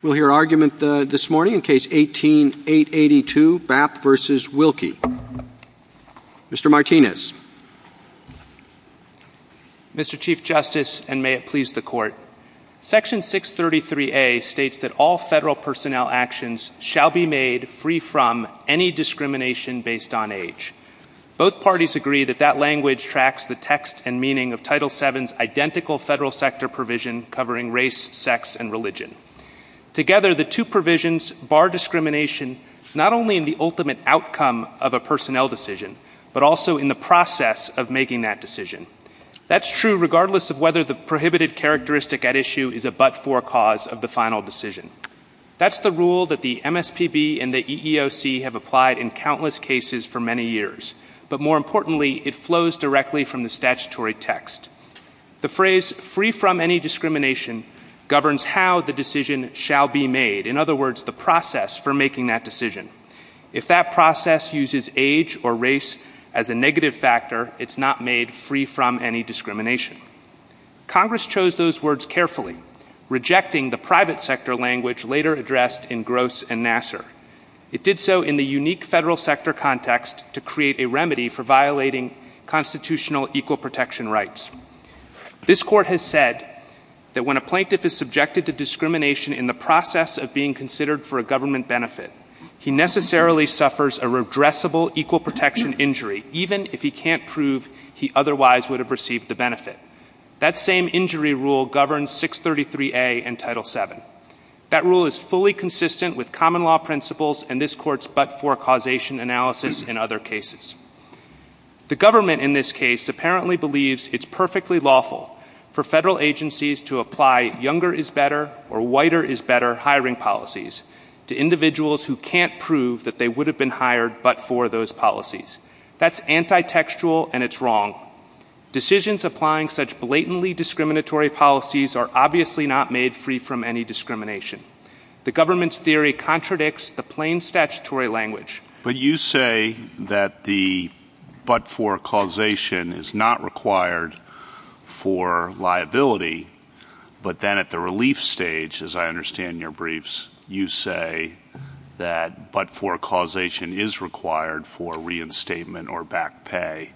We'll hear argument this morning in Case 18-882, Babb v. Wilkie. Mr. Martinez. Mr. Chief Justice, and may it please the Court, Section 633A states that all federal personnel actions shall be made free from any discrimination based on age. Both parties agree that that language tracks the text and meaning of Title VII's identical federal sector provision covering race, sex, and religion. Together, the two provisions bar discrimination not only in the ultimate outcome of a personnel decision, but also in the process of making that decision. That's true regardless of whether the prohibited characteristic at issue is a but-for cause of the final decision. That's the rule that the MSPB and the EEOC have applied in countless cases for many years, but more importantly, it flows directly from the statutory text. The phrase free from any discrimination governs how the decision shall be made, in other words, the process for making that decision. If that process uses age or race as a negative factor, it's not made free from any discrimination. Congress chose those words carefully, rejecting the private sector language later addressed in Gross and Nassar. It did so in the unique federal sector context to create a remedy for violating constitutional equal protection rights. This Court has said that when a plaintiff is subjected to discrimination in the process of being considered for a government benefit, he necessarily suffers a redressable equal protection injury, even if he can't prove he otherwise would have received the benefit. That same injury rule governs 633A in Title VII. That rule is fully consistent with common law principles and this Court's but-for causation analysis in other cases. The government in this case apparently believes it's perfectly lawful for federal agencies to apply younger is better or whiter is better hiring policies to individuals who can't prove that they would have been hired but for those policies. That's anti-textual and it's wrong. Decisions applying such blatantly discriminatory policies are obviously not made free from any discrimination. The government's theory contradicts the plain statutory language. But you say that the but-for causation is not required for liability but then at the relief stage, as I understand your briefs, you say that but-for causation is required for reinstatement or back pay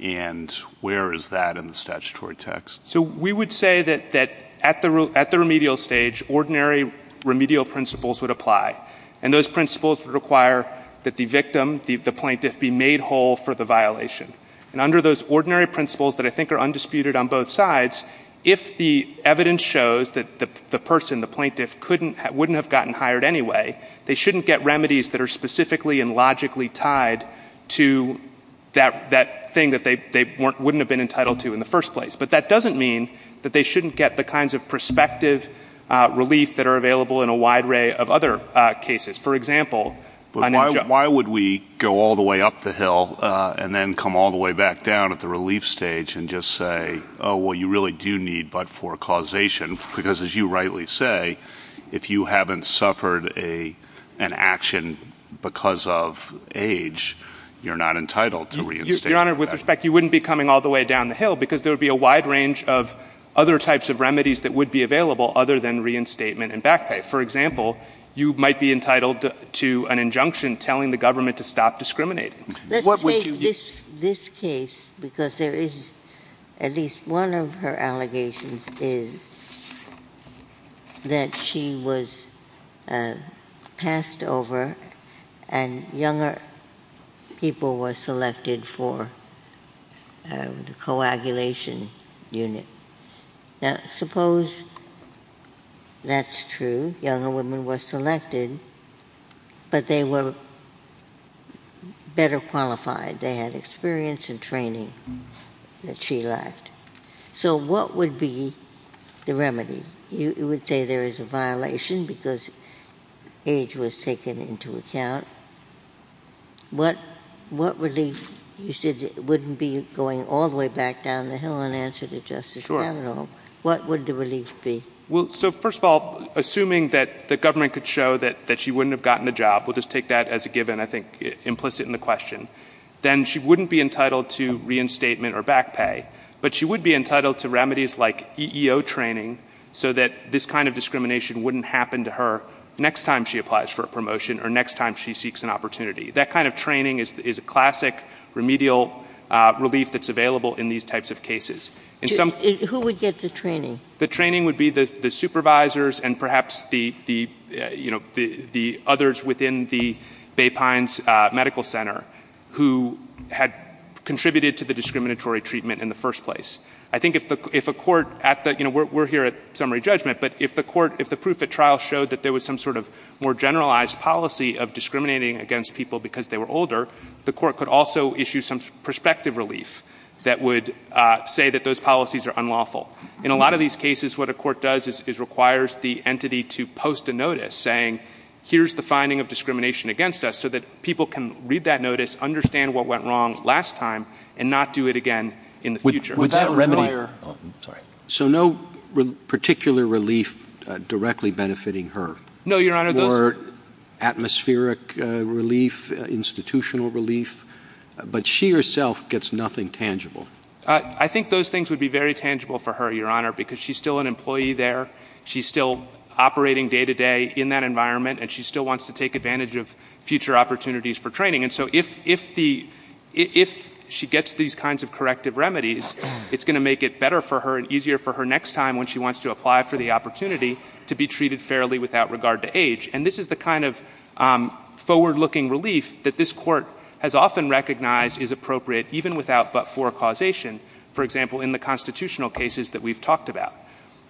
and where is that in the statutory text? So we would say that at the remedial stage, ordinary remedial principles would apply and those principles require that the victim, the plaintiff, be made whole for the violation. Under those ordinary principles that I think are undisputed on both sides, if the evidence shows that the person, the plaintiff, wouldn't have gotten hired anyway, they shouldn't get remedies that are specifically and logically tied to that thing that they wouldn't have been entitled to in the first place. But that doesn't mean that they shouldn't get the kinds of prospective relief that are For example, why would we go all the way up the hill and then come all the way back down at the relief stage and just say, oh, well, you really do need but-for causation because as you rightly say, if you haven't suffered an action because of age, you're not entitled to reinstate. Your Honor, with respect, you wouldn't be coming all the way down the hill because there would be a wide range of other types of remedies that would be available other than reinstatement and back pay. For example, you might be entitled to an injunction telling the government to stop discriminating. Let's take this case because there is at least one of her allegations is that she was passed over and younger people were selected for the coagulation unit. Now, suppose that's true, younger women were selected, but they were better qualified. They had experience and training that she lacked. So what would be the remedy? You would say there is a violation because age was taken into account. What relief, you said it wouldn't be going all the way back down the hill in answer to Justice Kavanaugh. Sure. What would the relief be? Well, so first of all, assuming that the government could show that she wouldn't have gotten a job, we'll just take that as a given, I think implicit in the question. Then she wouldn't be entitled to reinstatement or back pay, but she would be entitled to remedies like EEO training so that this kind of discrimination wouldn't happen to her next time she applies for a promotion or next time she seeks an opportunity. That kind of training is a classic remedial relief that's available in these types of cases. Who would get the training? The training would be the supervisors and perhaps the others within the Bay Pines Medical Center who had contributed to the discriminatory treatment in the first place. I think if a court, we're here at summary judgment, but if the court, if the proof at more generalized policy of discriminating against people because they were older, the court could also issue some perspective relief that would say that those policies are unlawful. In a lot of these cases, what a court does is requires the entity to post a notice saying, here's the finding of discrimination against us so that people can read that notice, understand what went wrong last time, and not do it again in the future. So no particular relief directly benefiting her? No, Your Honor. Or atmospheric relief, institutional relief? But she herself gets nothing tangible. I think those things would be very tangible for her, Your Honor, because she's still an employee there, she's still operating day to day in that environment, and she still wants to take advantage of future opportunities for training. And so if she gets these kinds of corrective remedies, it's going to make it better for her and easier for her next time when she wants to apply for the opportunity to be treated fairly without regard to age. And this is the kind of forward-looking relief that this court has often recognized is appropriate even without but-for causation, for example, in the constitutional cases that we've talked about.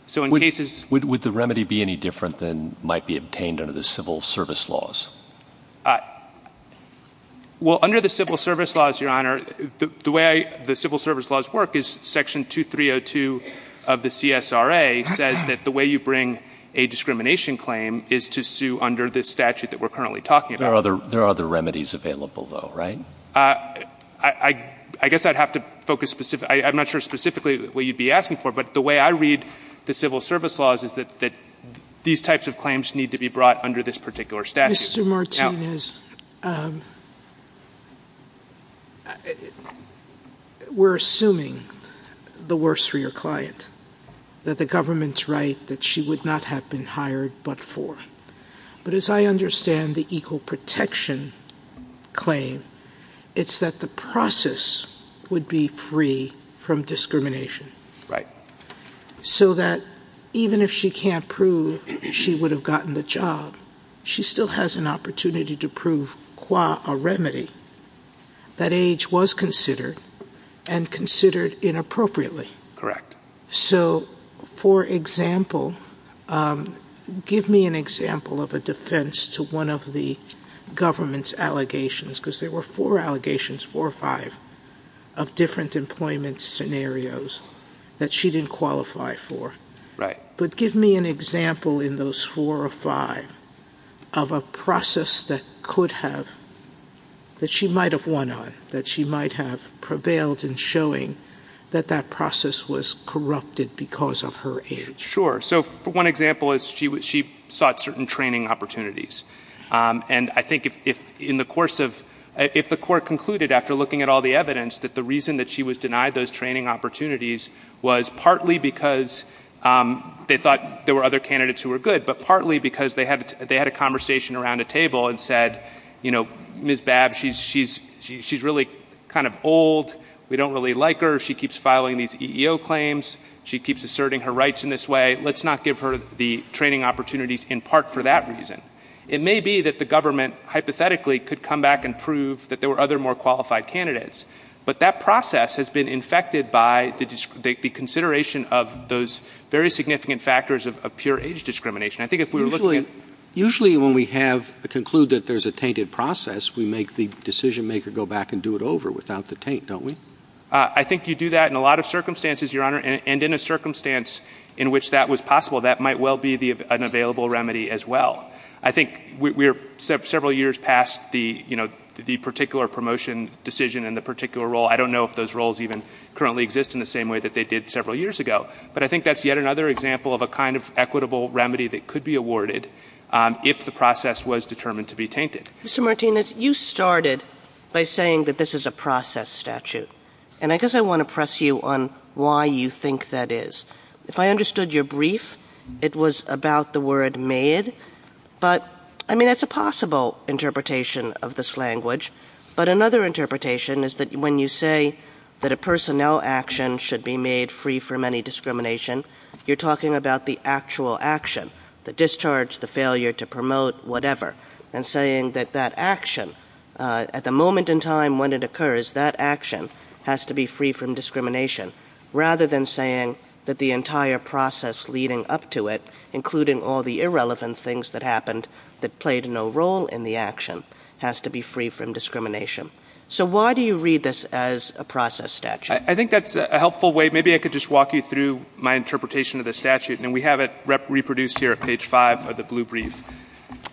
So in cases— Would the remedy be any different than might be obtained under the civil service laws? Well, under the civil service laws, Your Honor, the way the civil service laws work is Section 2302 of the CSRA says that the way you bring a discrimination claim is to sue under this statute that we're currently talking about. There are other remedies available, though, right? I guess I'd have to focus specific—I'm not sure specifically what you'd be asking for, but the way I read the civil service laws is that these types of claims need to be brought under this particular statute. Mr. Martinez, we're assuming the worst for your client, that the government's right that she would not have been hired but-for. But as I understand the equal protection claim, it's that the process would be free from discrimination. Right. So that even if she can't prove she would have gotten the job, she still has an opportunity to prove, qua a remedy, that age was considered and considered inappropriately. Correct. So, for example, give me an example of a defense to one of the government's allegations, because there were four allegations, four or five, of different employment scenarios that she didn't qualify for. Right. But give me an example in those four or five of a process that could have—that she might have won on, that she might have prevailed in showing that that process was corrupted because of her age. Sure. So one example is she sought certain training opportunities. And I think if in the course of—if the court concluded after looking at all the evidence that the reason that she was denied those training opportunities was partly because they thought there were other candidates who were good, but partly because they had a conversation around a table and said, you know, Ms. Babb, she's really kind of old. We don't really like her. She keeps filing these EEO claims. She keeps asserting her rights in this way. Let's not give her the training opportunities in part for that reason. It may be that the government hypothetically could come back and prove that there were other more qualified candidates, but that process has been infected by the consideration of those very significant factors of pure age discrimination. I think if we were looking at— Usually when we have—conclude that there's a tainted process, we make the decision maker go back and do it over without the taint, don't we? I think you do that in a lot of circumstances, Your Honor, and in a circumstance in which that was possible, that might well be an available remedy as well. I think we're several years past the, you know, the particular promotion decision and the particular role. I don't know if those roles even currently exist in the same way that they did several years ago, but I think that's yet another example of a kind of equitable remedy that could be awarded if the process was determined to be tainted. Mr. Martinez, you started by saying that this is a process statute, and I guess I want to press you on why you think that is. If I understood your brief, it was about the word made, but, I mean, that's a possible interpretation of this language. But another interpretation is that when you say that a personnel action should be made free from any discrimination, you're talking about the actual action—the discharge, the failure to promote, whatever—and saying that that action, at the moment in time when it occurs, that action has to be free from discrimination, rather than saying that the entire process leading up to it, including all the irrelevant things that happened that played no role in the action, has to be free from discrimination. So why do you read this as a process statute? I think that's a helpful way—maybe I could just walk you through my interpretation of the statute, and we have it reproduced here at page 5 of the blue brief.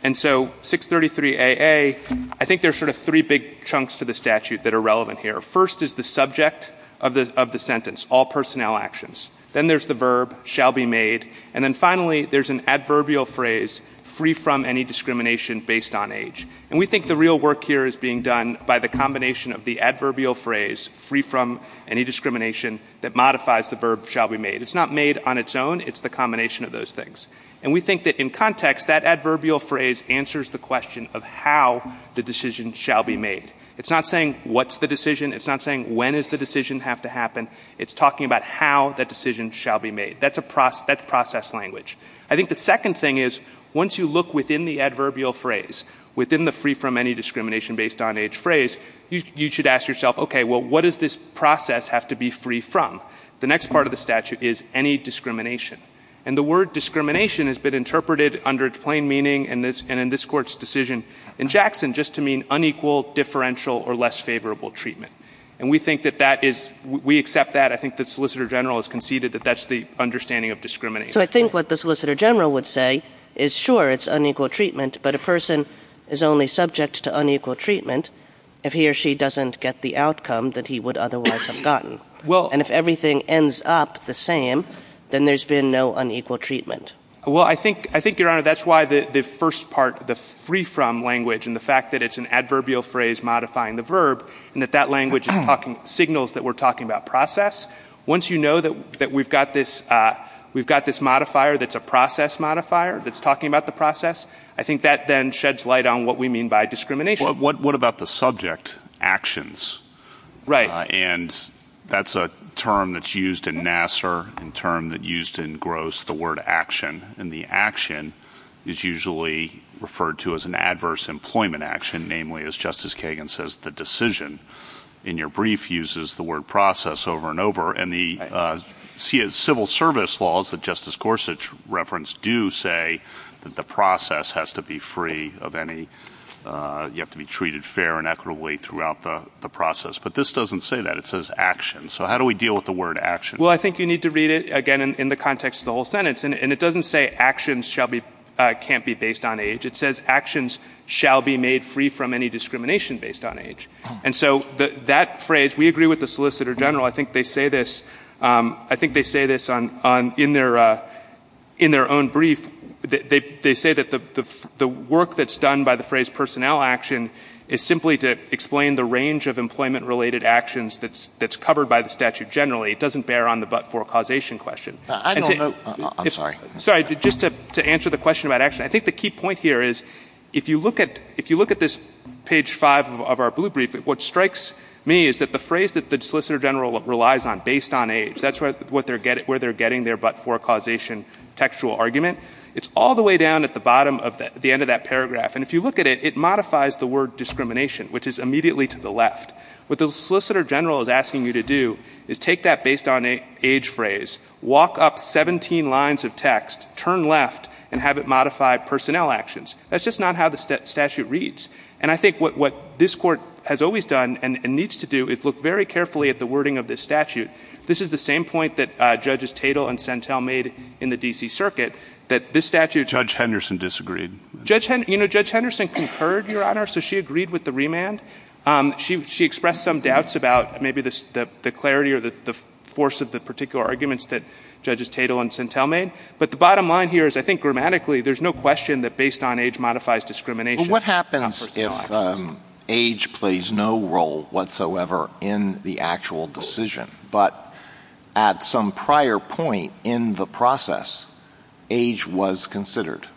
And so 633AA, I think there's sort of three big chunks to the statute that are relevant here. First is the subject of the sentence, all personnel actions. Then there's the verb, shall be made. And then finally, there's an adverbial phrase, free from any discrimination based on age. And we think the real work here is being done by the combination of the adverbial phrase, free from any discrimination, that modifies the verb shall be made. It's not made on its own, it's the combination of those things. And we think that in context, that adverbial phrase answers the question of how the decision shall be made. It's not saying what's the decision, it's not saying when is the decision have to happen, it's talking about how that decision shall be made. That's process language. I think the second thing is, once you look within the adverbial phrase, within the free from any discrimination based on age phrase, you should ask yourself, okay, well, what does this process have to be free from? The next part of the statute is any discrimination. And the word discrimination has been interpreted under its plain meaning and in this court's decision in Jackson just to mean unequal, differential, or less favorable treatment. And we think that that is, we accept that, I think the Solicitor General has conceded that that's the understanding of discrimination. So I think what the Solicitor General would say is, sure, it's unequal treatment, but a person is only subject to unequal treatment if he or she doesn't get the outcome that he would otherwise have gotten. And if everything ends up the same, then there's been no unequal treatment. Well, I think, I think, Your Honor, that's why the first part, the free from language and the fact that it's an adverbial phrase modifying the verb and that that language is talking, signals that we're talking about process. Once you know that we've got this, we've got this modifier that's a process modifier that's talking about the process, I think that then sheds light on what we mean by discrimination. What about the subject actions? Right. And that's a term that's used in Nassar, a term that's used in Gross, the word action. And the action is usually referred to as an adverse employment action, namely, as Justice Kagan says, the decision in your brief uses the word process over and over. And the civil service laws that Justice Gorsuch referenced do say that the process has to be free of any, you have to be treated fair and equitably throughout the process. But this doesn't say that. It says action. So how do we deal with the word action? Well, I think you need to read it again in the context of the whole sentence. And it doesn't say actions shall be, can't be based on age. It says actions shall be made free from any discrimination based on age. And so that phrase, we agree with the Solicitor General. I think they say this, I think they say this on, in their, in their own brief, they say that the work that's done by the phrase personnel action is simply to explain the range of employment related actions that's covered by the statute generally. It doesn't bear on the but-for-causation question. I don't know, I'm sorry. Sorry, just to answer the question about action, I think the key point here is if you look at, if you look at this page five of our blue brief, what strikes me is that the phrase that the Solicitor General relies on, based on age, that's where they're getting their but-for-causation textual argument. It's all the way down at the bottom of the, the end of that paragraph. And if you look at it, it modifies the word discrimination, which is immediately to the left. What the Solicitor General is asking you to do is take that based on age phrase, walk up 17 lines of text, turn left, and have it modify personnel actions. That's just not how the statute reads. And I think what, what this Court has always done and needs to do is look very carefully at the wording of this statute. This is the same point that Judges Tatel and Sentel made in the D.C. Circuit, that this statute- Judge Henderson disagreed. Judge, you know, Judge Henderson concurred, Your Honor, so she agreed with the remand. She, she expressed some doubts about maybe the, the clarity or the, the force of the particular arguments that Judges Tatel and Sentel made. But the bottom line here is, I think, grammatically, there's no question that based on age modifies discrimination- But what happens if age plays no role whatsoever in the actual decision, but at some prior point in the process, age was considered?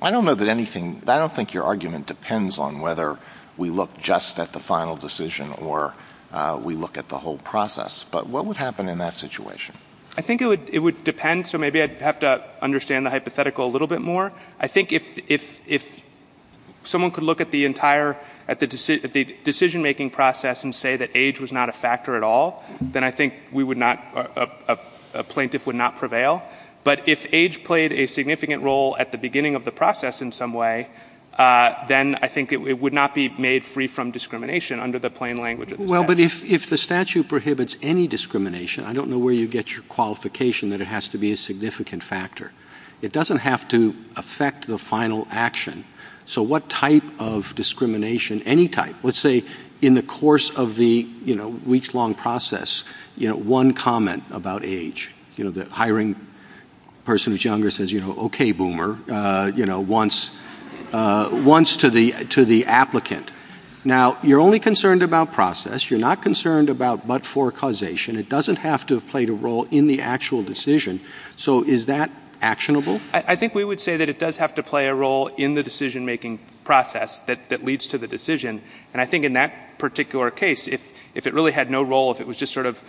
I don't know that anything, I don't think your argument depends on whether we look just at the final decision or we look at the whole process. But what would happen in that situation? I think it would, it would depend, so maybe I'd have to understand the hypothetical a little bit more. I think if, if, if someone could look at the entire, at the, at the decision-making process and say that age was not a factor at all, then I think we would not, a, a plaintiff would not prevail. But if age played a significant role at the beginning of the process in some way, then I think it, it would not be made free from discrimination under the plain language of the statute. Well, but if, if the statute prohibits any discrimination, I don't know where you get your qualification that it has to be a significant factor. It doesn't have to affect the final action. So what type of discrimination, any type, let's say in the course of the, you know, person is younger says, you know, okay, boomer, you know, once, once to the, to the applicant. Now you're only concerned about process. You're not concerned about but-for causation. It doesn't have to have played a role in the actual decision. So is that actionable? I think we would say that it does have to play a role in the decision-making process that, that leads to the decision. And I think in that particular case, if, if it really had no role, if it was just sort of,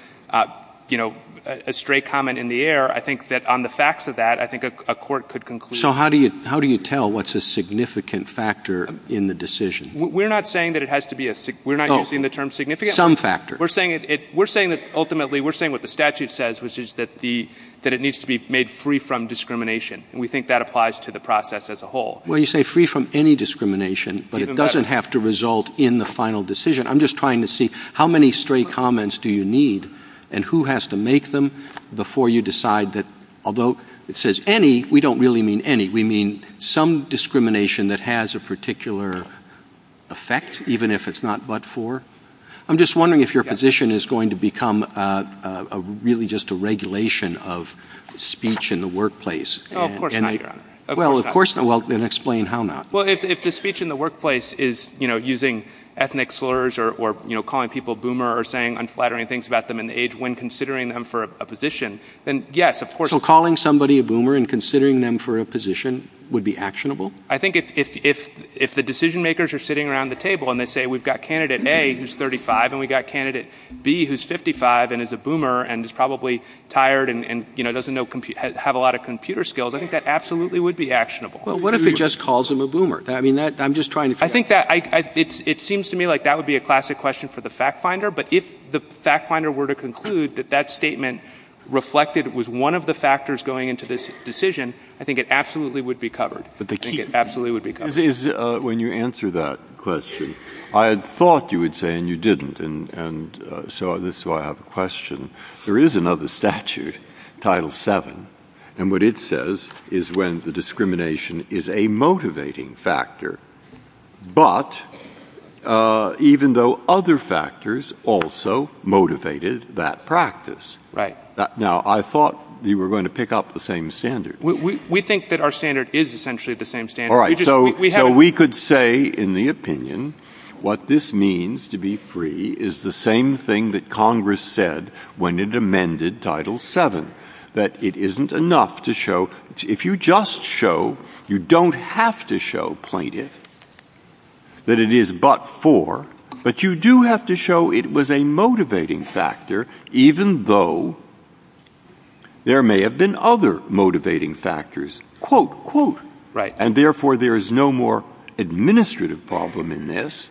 you know, a stray comment in the air, I think that on the facts of that, I think a, a court could conclude. So how do you, how do you tell what's a significant factor in the decision? We're not saying that it has to be a, we're not using the term significant. Some factor. We're saying it, we're saying that ultimately, we're saying what the statute says, which is that the, that it needs to be made free from discrimination, and we think that applies to the process as a whole. Well, you say free from any discrimination, but it doesn't have to result in the final decision. I'm just trying to see how many stray comments do you need, and who has to make them before you decide that, although it says any, we don't really mean any. We mean some discrimination that has a particular effect, even if it's not but for. I'm just wondering if your position is going to become a, a, a, really just a regulation of speech in the workplace. Oh, of course not, Your Honor. Of course not. Well, of course not. Well, then explain how not. Well, if, if the speech in the workplace is, you know, using ethnic slurs or, or, you know, calling people a boomer or saying unflattering things about them in the age when considering them for a position, then yes, of course. So calling somebody a boomer and considering them for a position would be actionable? I think if, if, if, if the decision makers are sitting around the table and they say we've got candidate A who's 35 and we've got candidate B who's 55 and is a boomer and is probably tired and, and, you know, doesn't know, have a lot of computer skills, I think that absolutely would be actionable. Well, what if it just calls him a boomer? I mean, that, I'm just trying to figure out. I think that, I, I, it's, it seems to me like that would be a classic question for the fact finder, but if the fact finder were to conclude that that statement reflected, was one of the factors going into this decision, I think it absolutely would be covered. I think it absolutely would be covered. Is, is when you answer that question, I had thought you would say, and you didn't. And, and so this is why I have a question. There is another statute, Title VII, and what it says is when the discrimination is a motivating factor, but even though other factors also motivated that practice. Right. Now, I thought you were going to pick up the same standard. We, we, we think that our standard is essentially the same standard. All right. So, so we could say in the opinion, what this means to be free is the same thing that when it amended Title VII, that it isn't enough to show, if you just show, you don't have to show plaintiff that it is but for, but you do have to show it was a motivating factor, even though there may have been other motivating factors, quote, quote. Right. And therefore there is no more administrative problem in this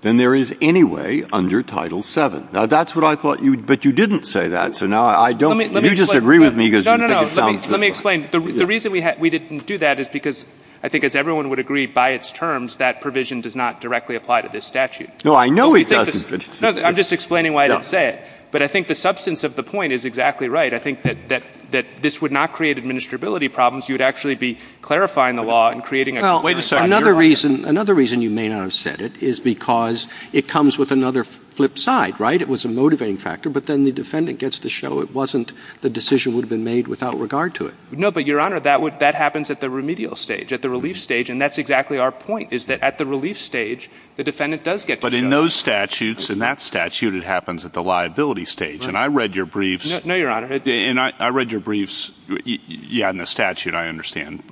than there is anyway under Title VII. Now, that's what I thought you, but you didn't say that. So now I don't, you just agree with me because you think it sounds. Let me explain. The reason we had, we didn't do that is because I think as everyone would agree by its terms, that provision does not directly apply to this statute. No, I know it doesn't. I'm just explaining why I didn't say it, but I think the substance of the point is exactly right. I think that, that, that this would not create administrability problems. You would actually be clarifying the law and creating a way to say another reason. Another reason you may not have said it is because it comes with another flip side, right? It was a motivating factor, but then the defendant gets to show it wasn't the decision would have been made without regard to it. No, but your honor, that would, that happens at the remedial stage, at the relief stage. And that's exactly our point is that at the relief stage, the defendant does get to show. But in those statutes, in that statute, it happens at the liability stage. And I read your briefs. No, your honor. And I read your briefs. You had in the statute. I understand.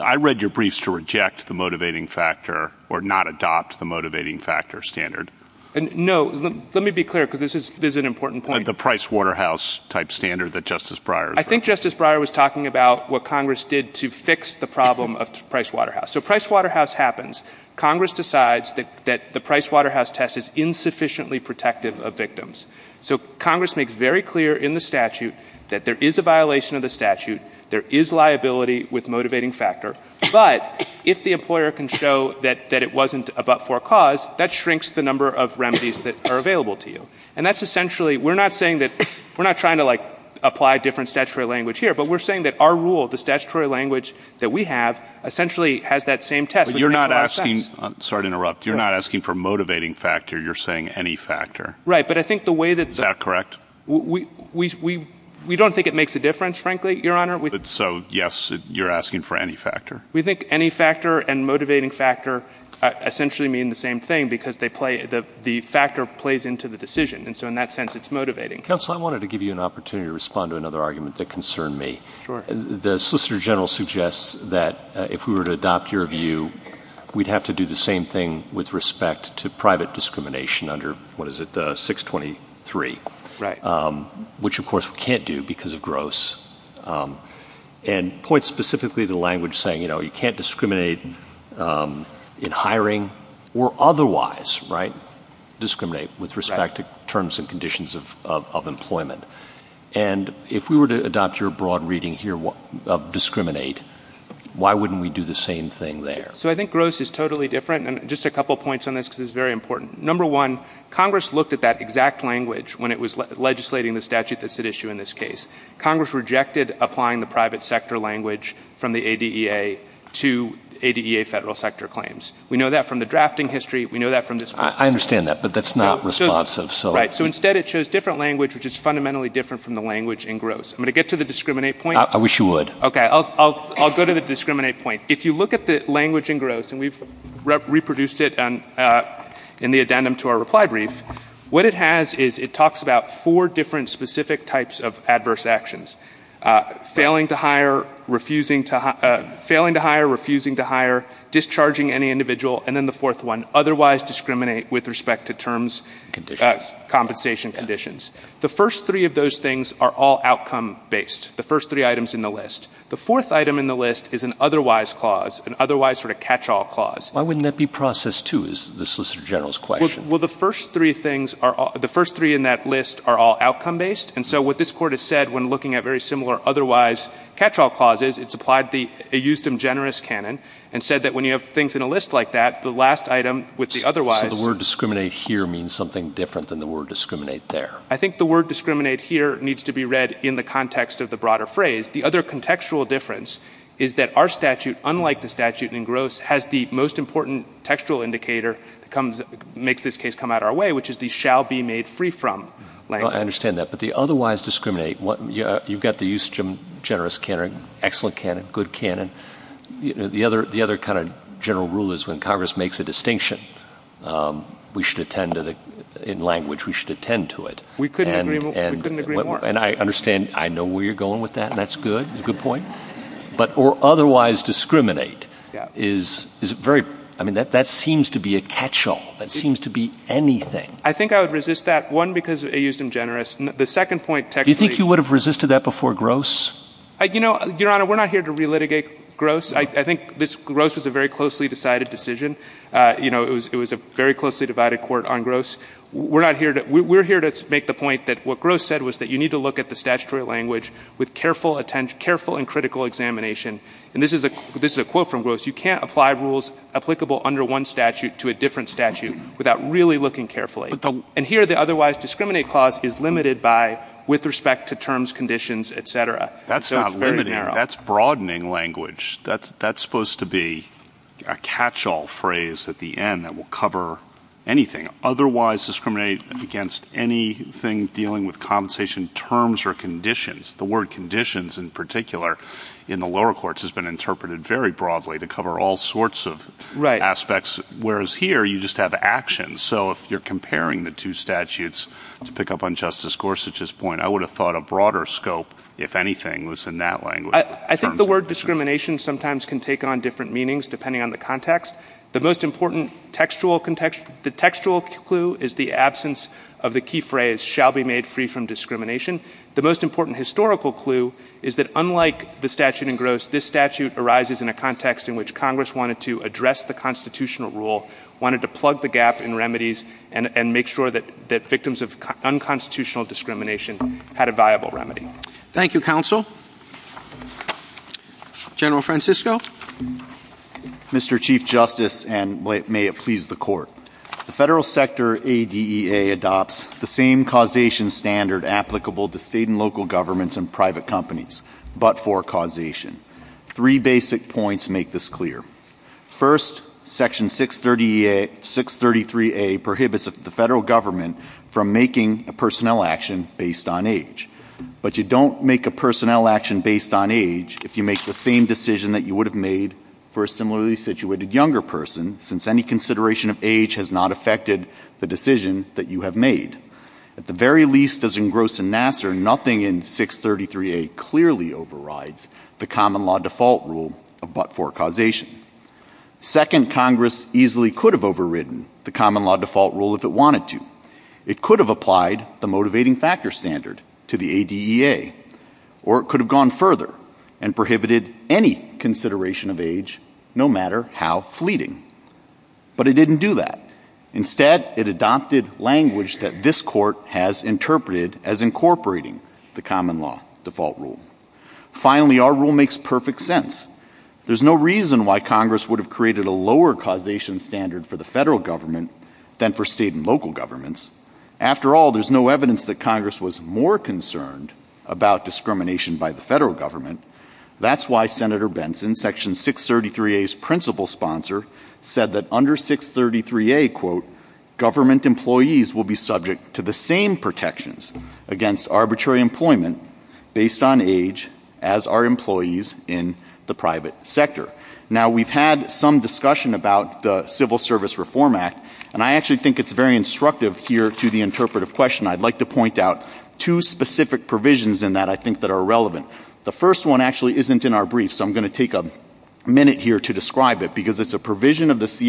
I read your briefs to reject the motivating factor or not adopt the motivating factor standard. And no, let me be clear because this is, this is an important point. The Pricewaterhouse type standard that justice Briar. I think justice Briar was talking about what Congress did to fix the problem of Pricewaterhouse. So Pricewaterhouse happens. Congress decides that the Pricewaterhouse test is insufficiently protective of victims. So Congress makes very clear in the statute that there is a violation of the There is liability with motivating factor, but if the employer can show that, that wasn't about for cause that shrinks the number of remedies that are available to you. And that's essentially, we're not saying that we're not trying to like apply different statutory language here, but we're saying that our rule, the statutory language that we have essentially has that same test. You're not asking, sorry to interrupt. You're not asking for motivating factor. You're saying any factor. Right. But I think the way that that correct, we, we, we, we don't think it makes a difference, frankly, your honor. So yes, you're asking for any factor. We think any factor and motivating factor essentially mean the same thing because they play the, the factor plays into the decision. And so in that sense, it's motivating. Counsel, I wanted to give you an opportunity to respond to another argument that concerned me. The solicitor general suggests that if we were to adopt your view, we'd have to do the same thing with respect to private discrimination under what is it? The six 23, right. Um, which of course we can't do because of gross, um, and point specifically the language saying, you know, you can't discriminate, um, in hiring or otherwise right discriminate with respect to terms and conditions of, of, of employment. And if we were to adopt your broad reading here, what of discriminate, why wouldn't we do the same thing there? So I think gross is totally different. And just a couple of points on this, because it's very important. Number one, Congress looked at that exact language when it was legislating the statute that's at issue in this case, Congress rejected applying the private sector language from the ADA to ADA federal sector claims. We know that from the drafting history. We know that from this. I understand that, but that's not responsive. So right. So instead it shows different language, which is fundamentally different from the language in gross. I'm going to get to the discriminate point. I wish you would. Okay. I'll, I'll, I'll go to the discriminate point. If you look at the language in gross and we've reproduced it on, uh, in the addendum to our reply brief, what it has is it talks about four different specific types of adverse actions, uh, failing to hire, refusing to, uh, failing to hire, refusing to hire, discharging any individual. And then the fourth one, otherwise discriminate with respect to terms compensation conditions. The first three of those things are all outcome based. The first three items in the list, the fourth item in the list is an otherwise clause and otherwise sort of catch all clause. Why wouldn't that be processed too is the solicitor general's question. Well, the first three things are the first three in that list are all outcome based. And so what this court has said, when looking at very similar, otherwise catch all clauses, it's applied the Euston generous Canon and said that when you have things in a list like that, the last item with the otherwise, the word discriminate here means something different than the word discriminate there. I think the word discriminate here needs to be read in the context of the broader phrase. The other contextual difference is that our statute, unlike the statute in gross has the most important textual indicator that comes makes this case come out our way, which is the shall be made free from. I understand that. But the otherwise discriminate what you've got the Euston generous Canon, excellent Canon, good Canon. You know, the other, the other kind of general rule is when Congress makes a distinction, um, we should attend to the, in language we should attend to it. We couldn't agree more. And I understand. I know where you're going with that. And that's good. That's a good point. But, or otherwise discriminate is, is very, I mean, that, that seems to be a catch all that seems to be anything. I think I would resist that one because it used him generous. And the second point tech, do you think you would have resisted that before gross? I, you know, your honor, we're not here to relitigate gross. I think this gross was a very closely decided decision. Uh, you know, it was, it was a very closely divided court on gross. We're not here to, we're here to make the point that what gross said was that you need to look at the statutory language with careful attention, careful and critical examination. And this is a, this is a quote from gross. You can't apply rules applicable under one statute to a different statute without really looking carefully. And here the otherwise discriminate clause is limited by with respect to terms, conditions, et cetera. That's not limiting. That's broadening language. That's, that's supposed to be a catch all phrase at the end that will cover anything otherwise discriminate against anything dealing with compensation terms or conditions. The word conditions in particular in the lower courts has been interpreted very broadly to cover all sorts of aspects. Whereas here you just have actions. So if you're comparing the two statutes to pick up on justice Gorsuch's point, I would have thought a broader scope, if anything was in that language, I think the word discrimination sometimes can take on different meanings depending on the context. The most important textual context, the textual clue is the absence of the key phrase shall be made free from discrimination. The most important historical clue is that unlike the statute in gross, this statute arises in a context in which Congress wanted to address the constitutional rule, wanted to plug the gap in remedies and make sure that that victims of unconstitutional discrimination had a viable remedy. Thank you. Counsel general Francisco, Mr. Chief justice. And may it please the court, the federal sector ADA adopts the same causation standard applicable to state and local governments and private companies, but for causation, three basic points. Make this clear. First section six 30, a six 33, a prohibits the federal government from making a personnel action based on age, but you don't make a personnel action based on age. If you make the same decision that you would have made for a similarly situated younger person, since any consideration of age has not affected the decision that you have made at the very least as engrossed in Nassar, nothing in six 33, a clearly overrides the common law default rule of, but for causation second, Congress easily could have overridden the common law default rule. If it wanted to, it could have applied the motivating factor standard to the ADA, or it could have gone further and prohibited any consideration of age, no matter how fleeting, but it didn't do that. Instead, it adopted language that this court has interpreted as incorporating the common law default rule. Finally, our rule makes perfect sense. There's no reason why Congress would have created a lower causation standard for the federal government than for state and local governments. After all, there's no evidence that Congress was more concerned about discrimination by the federal government. That's why Senator Benson section six 33, a principal sponsor said that under six 33, a quote government employees will be subject to the same protections against arbitrary employment based on age as our employees in the private sector. Now we've had some discussion about the civil service reform act, and I actually think it's very instructive here to the interpretive question. I'd like to point out two specific provisions in that I think that are relevant. The first one actually isn't in our brief. So I'm going to take a minute here to describe it because it's a provision of section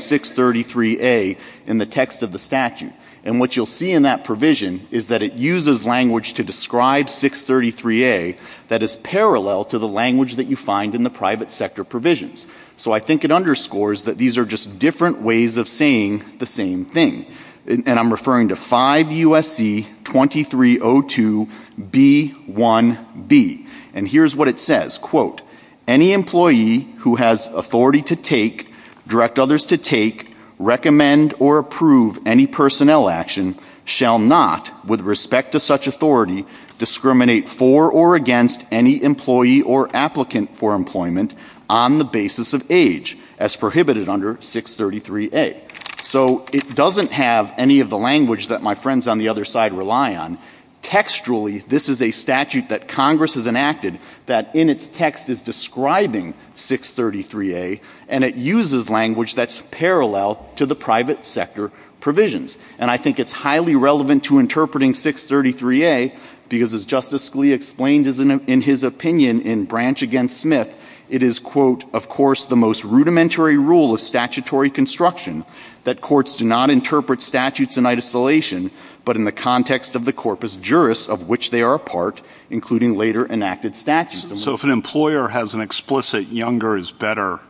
six 33 a in the text of the statute. And what you'll see in that provision is that it uses language to describe six 33 a that is parallel to the language that you find in the private sector provisions. So I think it underscores that these are just different ways of saying the same thing. And I'm referring to five USC 23 oh two B one B and here's what it says. Quote any employee who has authority to take direct others to take recommend or approve any personnel action shall not with respect to such authority discriminate for or against any employee or applicant for employment on the basis of age as prohibited under six 33 a so it doesn't have any of the language that my friends on the other side rely on textually. This is a statute that Congress has enacted that in its text is describing six 33 a and it uses language that's parallel to the private sector provisions. And I think it's highly relevant to interpreting six 33 a because as Justice Scalia explained as an in his opinion in branch against Smith it is quote of course the most rudimentary rule of statutory construction that courts do not interpret statutes in isolation but in the context of the corpus juris of which they are a part including later enacted statutes. So if an employer has an explicit younger is better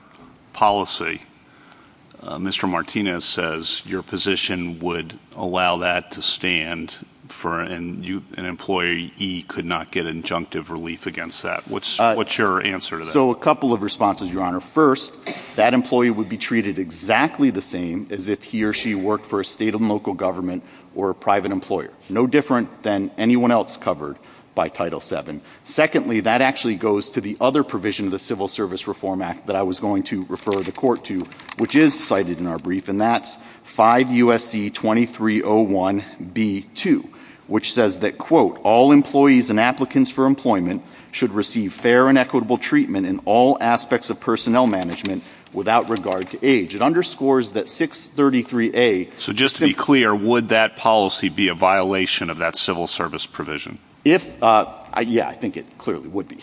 policy Mr. Martinez says your position would allow that to stand for an employee he could not get an injunctive relief against that. What's what's your answer. So a couple of responses Your Honor. First that employee would be treated exactly the same as if he or she worked for a state and local government or a private employer. No different than anyone else covered by Title 7. Secondly that actually goes to the other provision of the Civil Service Reform Act that I was going to refer the court to which is cited in our brief and that's 5 U.S.C. 23 0 1 B 2 which says that quote all employees and applicants for employment should receive fair and equitable treatment in all aspects of personnel management without regard to age. It underscores that 633 A. So just to be clear would that policy be a violation of that civil service provision. If I yeah I think it clearly would be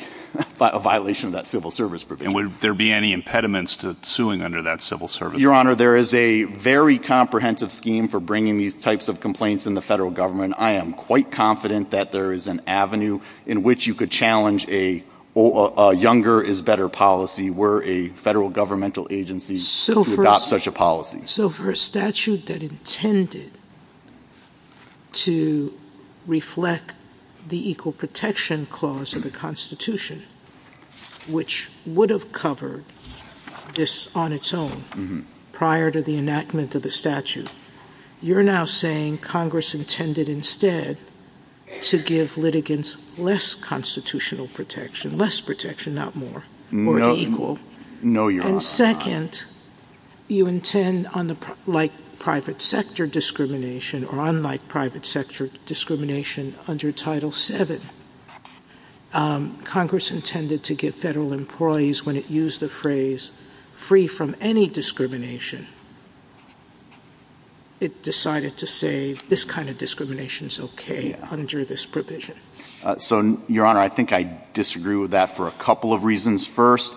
a violation of that civil service provision would there be any impediments to suing under that civil service. Your Honor there is a very comprehensive scheme for bringing these types of complaints in the federal government. I am quite confident that there is an avenue in which you could challenge a or a younger is better policy were a federal governmental agency. So we've got such a policy. So for a statute that intended to reflect the Equal Protection Clause of the Constitution which would have covered this on its own prior to the enactment of the statute you're now saying Congress intended instead to give litigants less constitutional protection less protection not more equal. No your second you intend on the like private sector discrimination or unlike private sector discrimination under Title 7. Congress intended to give federal employees when it used the phrase free from any discrimination it decided to say this kind of discrimination is OK under this provision. So your Honor I think I disagree with that for a couple of reasons. First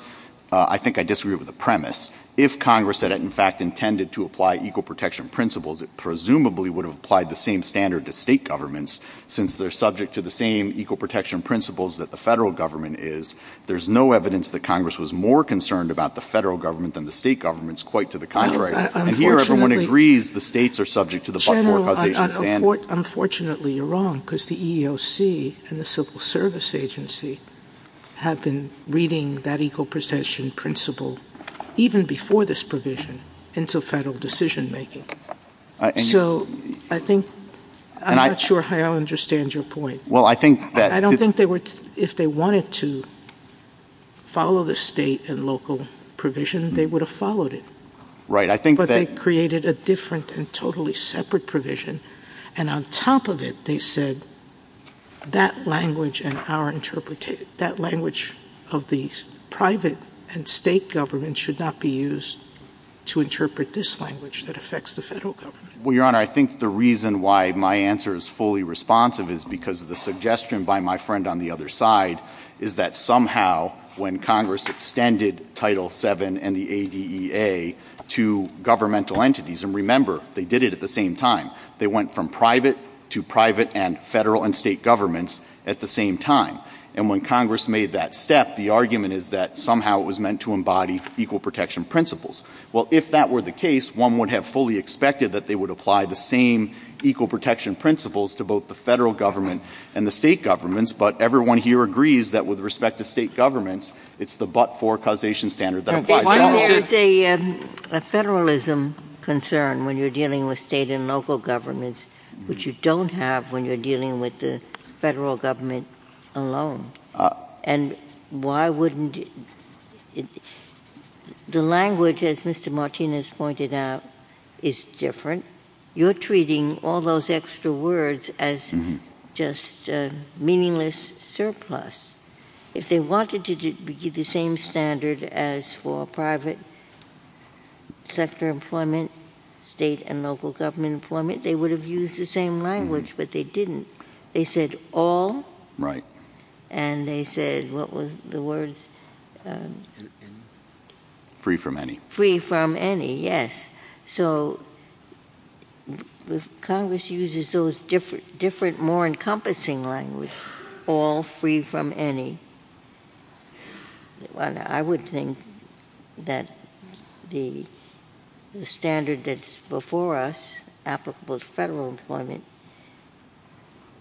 I think I disagree with the premise. If Congress said it in fact intended to apply equal protection principles it presumably would have applied the same standard to state governments since they're subject to the same equal protection principles that the federal government is. There's no evidence that Congress was more concerned about the federal government than the state governments quite to the contrary. And here everyone agrees the states are subject to the buck four causation standard. Unfortunately you're wrong because the EEOC and the Civil Service Agency have been reading that equal protection principle even before this provision into federal decision making. So I think I'm not sure how I understand your point. Well I think that I don't think they were if they wanted to follow the state and local provision they would have followed it. Right. I think that created a different and totally separate provision. And on top of it they said that language and our interpretation that language of these private and state government should not be used to interpret this language that affects the federal government. Well Your Honor I think the reason why my answer is fully responsive is because of the suggestion by my friend on the other side is that somehow when Congress extended Title VII and the ADEA to governmental entities and remember they did it at the same time they went from private to private and federal and state governments at the same time. And when Congress made that step the argument is that somehow it was meant to embody equal protection principles. Well if that were the case one would have fully expected that they would apply the same equal protection principles to both the federal government and the state governments. But everyone here agrees that with respect to state governments it's the buck four causation standard that applies to all states. Why is there a federalism concern when you're dealing with state and local governments which you don't have when you're dealing with the federal government alone. And why wouldn't the language as Mr. Martinez pointed out is different. You're treating all those extra words as just meaningless surplus. If they wanted to get the same standard as for private sector employment state and local government employment they would have used the same language but they didn't. They said all right and they said what was the words free from any free from any. Yes. So Congress uses those different different more encompassing language all free from any. I would think that the standard that's before us applicable to federal employment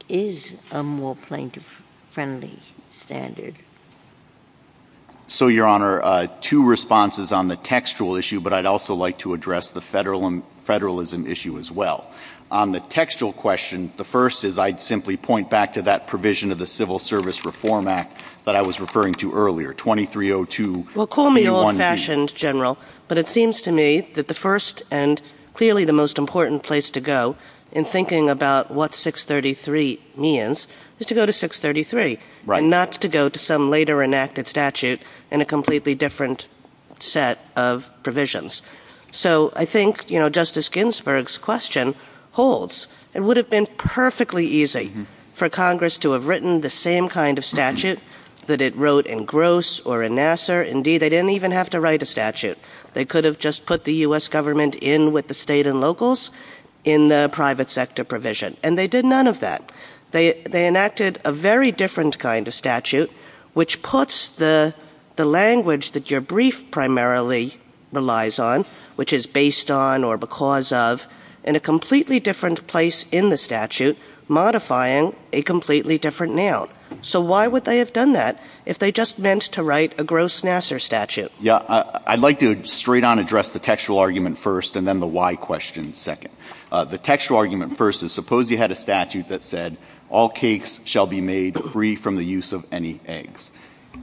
is a more plaintiff friendly standard. So Your Honor two responses on the textual issue but I'd also like to address the federal and federalism issue as well on the textual question. The first is I'd simply point back to that provision of the Civil Service Reform Act that I was referring to earlier. Twenty three oh two. Well call me old fashioned general. But it seems to me that the first and clearly the most important place to go in thinking about what 633 means is to go to 633 and not to go to some later enacted statute in a completely different set of provisions. So I think you know Justice Ginsburg's question holds. It would have been perfectly easy for Congress to have written the same kind of statute that it wrote in gross or in Nassar. Indeed they didn't even have to write a statute. They could have just put the US government in with the state and locals in the private sector provision and they did none of that. They enacted a very different kind of statute which puts the the language that your brief primarily relies on which is based on or because of in a completely different place in the statute modifying a completely different now. So why would they have done that if they just meant to write a gross Nassar statute. Yeah I'd like to straight on address the textual argument first and then the why question second. The textual argument first is suppose you had a statute that said all cakes shall be made free from the use of any eggs.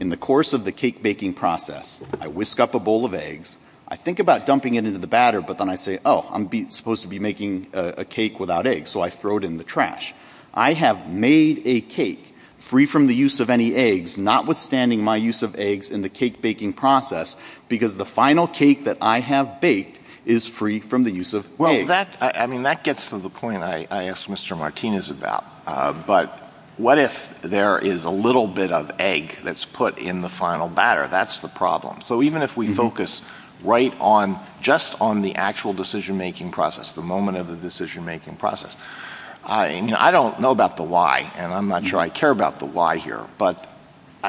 In the course of the cake baking process I whisk up a bowl of eggs. I think about dumping it into the batter but then I say oh I'm supposed to be making a cake without eggs so I throw it in the trash. I have made a cake free from the use of any eggs notwithstanding my use of eggs in the cake baking process because the final cake that I have baked is free from the use of well that I mean that gets to the point I asked Mr. Martinez about. But what if there is a little bit of egg that's put in the final batter. That's the problem. So even if we focus right on just on the actual decision making process the moment of the decision making process I mean I don't know about the why and I'm not sure I care about the why here but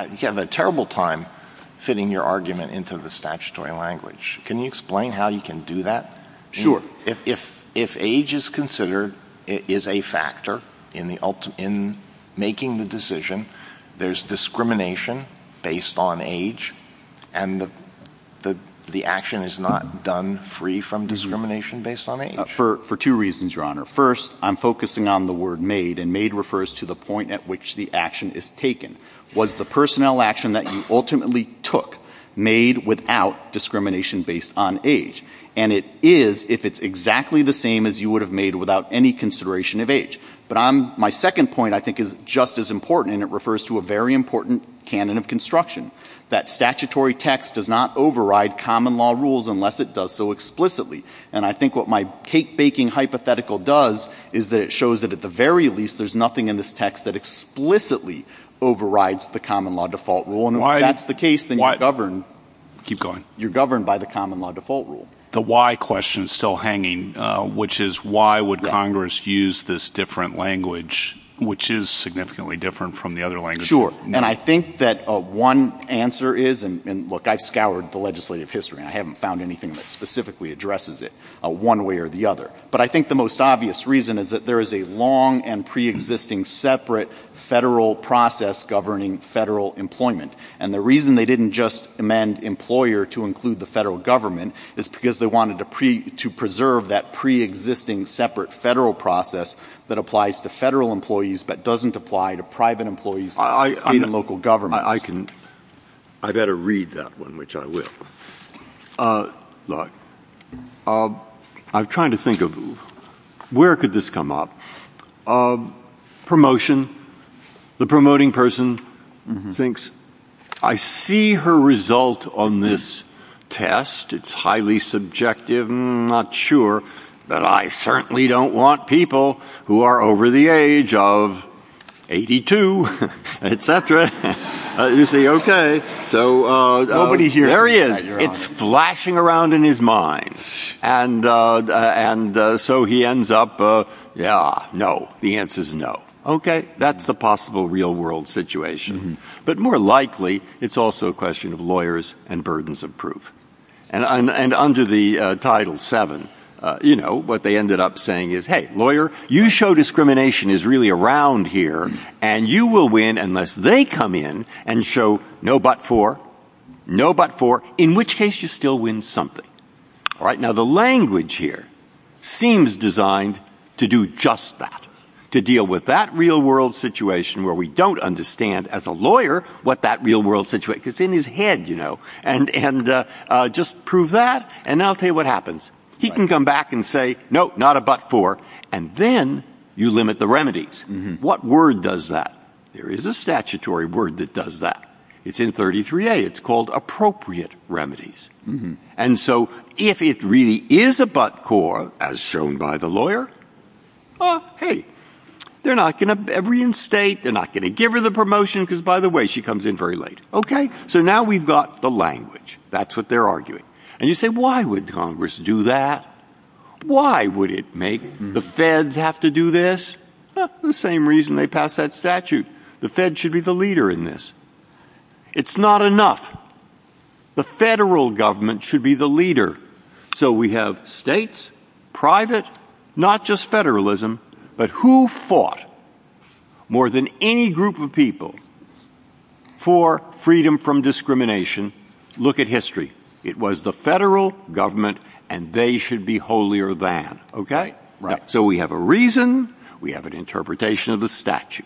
you have a terrible time fitting your argument into the statutory language. Can you explain how you can do that. Sure if if if age is considered it is a factor in the ultimate in making the decision there's discrimination based on age and the the the action is not done free from discrimination based on age for two reasons Your Honor. First I'm focusing on the word made and made refers to the point at which the action is taken was the personnel action that you ultimately took made without discrimination based on age. And it is if it's exactly the same as you would have made without any consideration of age. But I'm my second point I think is just as important and it refers to a very important canon of construction that statutory text does not override common law rules unless it does so explicitly. And I think what my cake baking hypothetical does is that it shows that at the very least there's nothing in this text that explicitly overrides the common law default rule and why that's the case then why govern keep going you're governed by the common law default rule. The why question is still hanging which is why would Congress use this different language which is significantly different from the other language. Sure. And I think that one answer is and look I've scoured the legislative history and I haven't found anything that specifically addresses it one way or the other. But I think the most obvious reason is that there is a long and pre-existing separate federal process governing federal employment. And the reason they didn't just amend employer to include the federal government is because they wanted to preserve that pre-existing separate federal process that applies to federal employees but doesn't apply to private employees in local government. I can I better read that one which I will. I'm trying to think of where could this come up. Promotion. The promoting person thinks I see her result on this test. It's highly subjective I'm not sure but I certainly don't want people who are over the age of 82 etc. You see. OK. So nobody here is it's flashing around in his mind. And and so he ends up. Yeah. No. The answer is no. OK. That's the possible real world situation but more likely it's also a question of lawyers and burdens of proof. And under the Title 7 you know what they ended up saying is hey lawyer you show discrimination is really around here and you will win unless they come in and show no but for no but for in which case you still win something. All right. Now the language here seems designed to do just that to deal with that real world situation where we don't understand as a lawyer what that real world situation is in his head you know and and just prove that. And I'll tell you what happens. He can come back and say no not a but for and then you limit the remedies. What word does that. There is a statutory word that does that. It's in 33 a it's called appropriate remedies. And so if it really is a but for as shown by the lawyer. Hey they're not going to every in state they're not going to give her the promotion because by the way she comes in very late. OK. So now we've got the language. That's what they're arguing. And you say why would Congress do that. Why would it make the feds have to do this. The same reason they pass that statute. The fed should be the leader in this. It's not enough. The federal government should be the leader. So we have states private not just federalism but who fought more than any group of people for freedom from discrimination. Look at history. It was the federal government and they should be holier than OK. Right. So we have a reason we have an interpretation of the statute.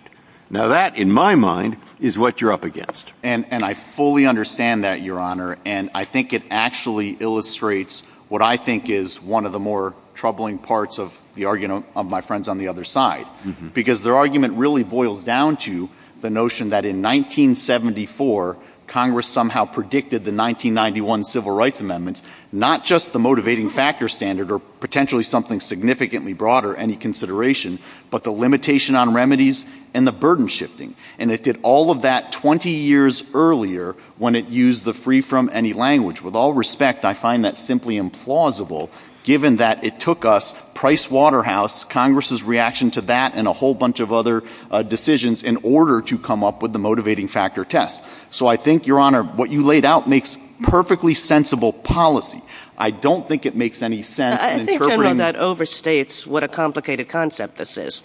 Now that in my mind is what you're up against. And I fully understand that your honor. And I think it actually illustrates what I think is one of the more troubling parts of the argument of my friends on the other side because their argument really boils down to the notion that in 1974 Congress somehow predicted the 1991 civil rights amendments not just the motivating factor standard or potentially something significantly broader any consideration but the limitation on remedies and the burden shifting. And it did all of that 20 years earlier when it used the free from any language with all respect. I find that simply implausible given that it took us Pricewaterhouse Congress's reaction to that and a whole bunch of other decisions in order to come up with the motivating factor test. So I think your honor what you laid out makes perfectly sensible policy. I don't think it makes any sense that overstates what a complicated concept this is.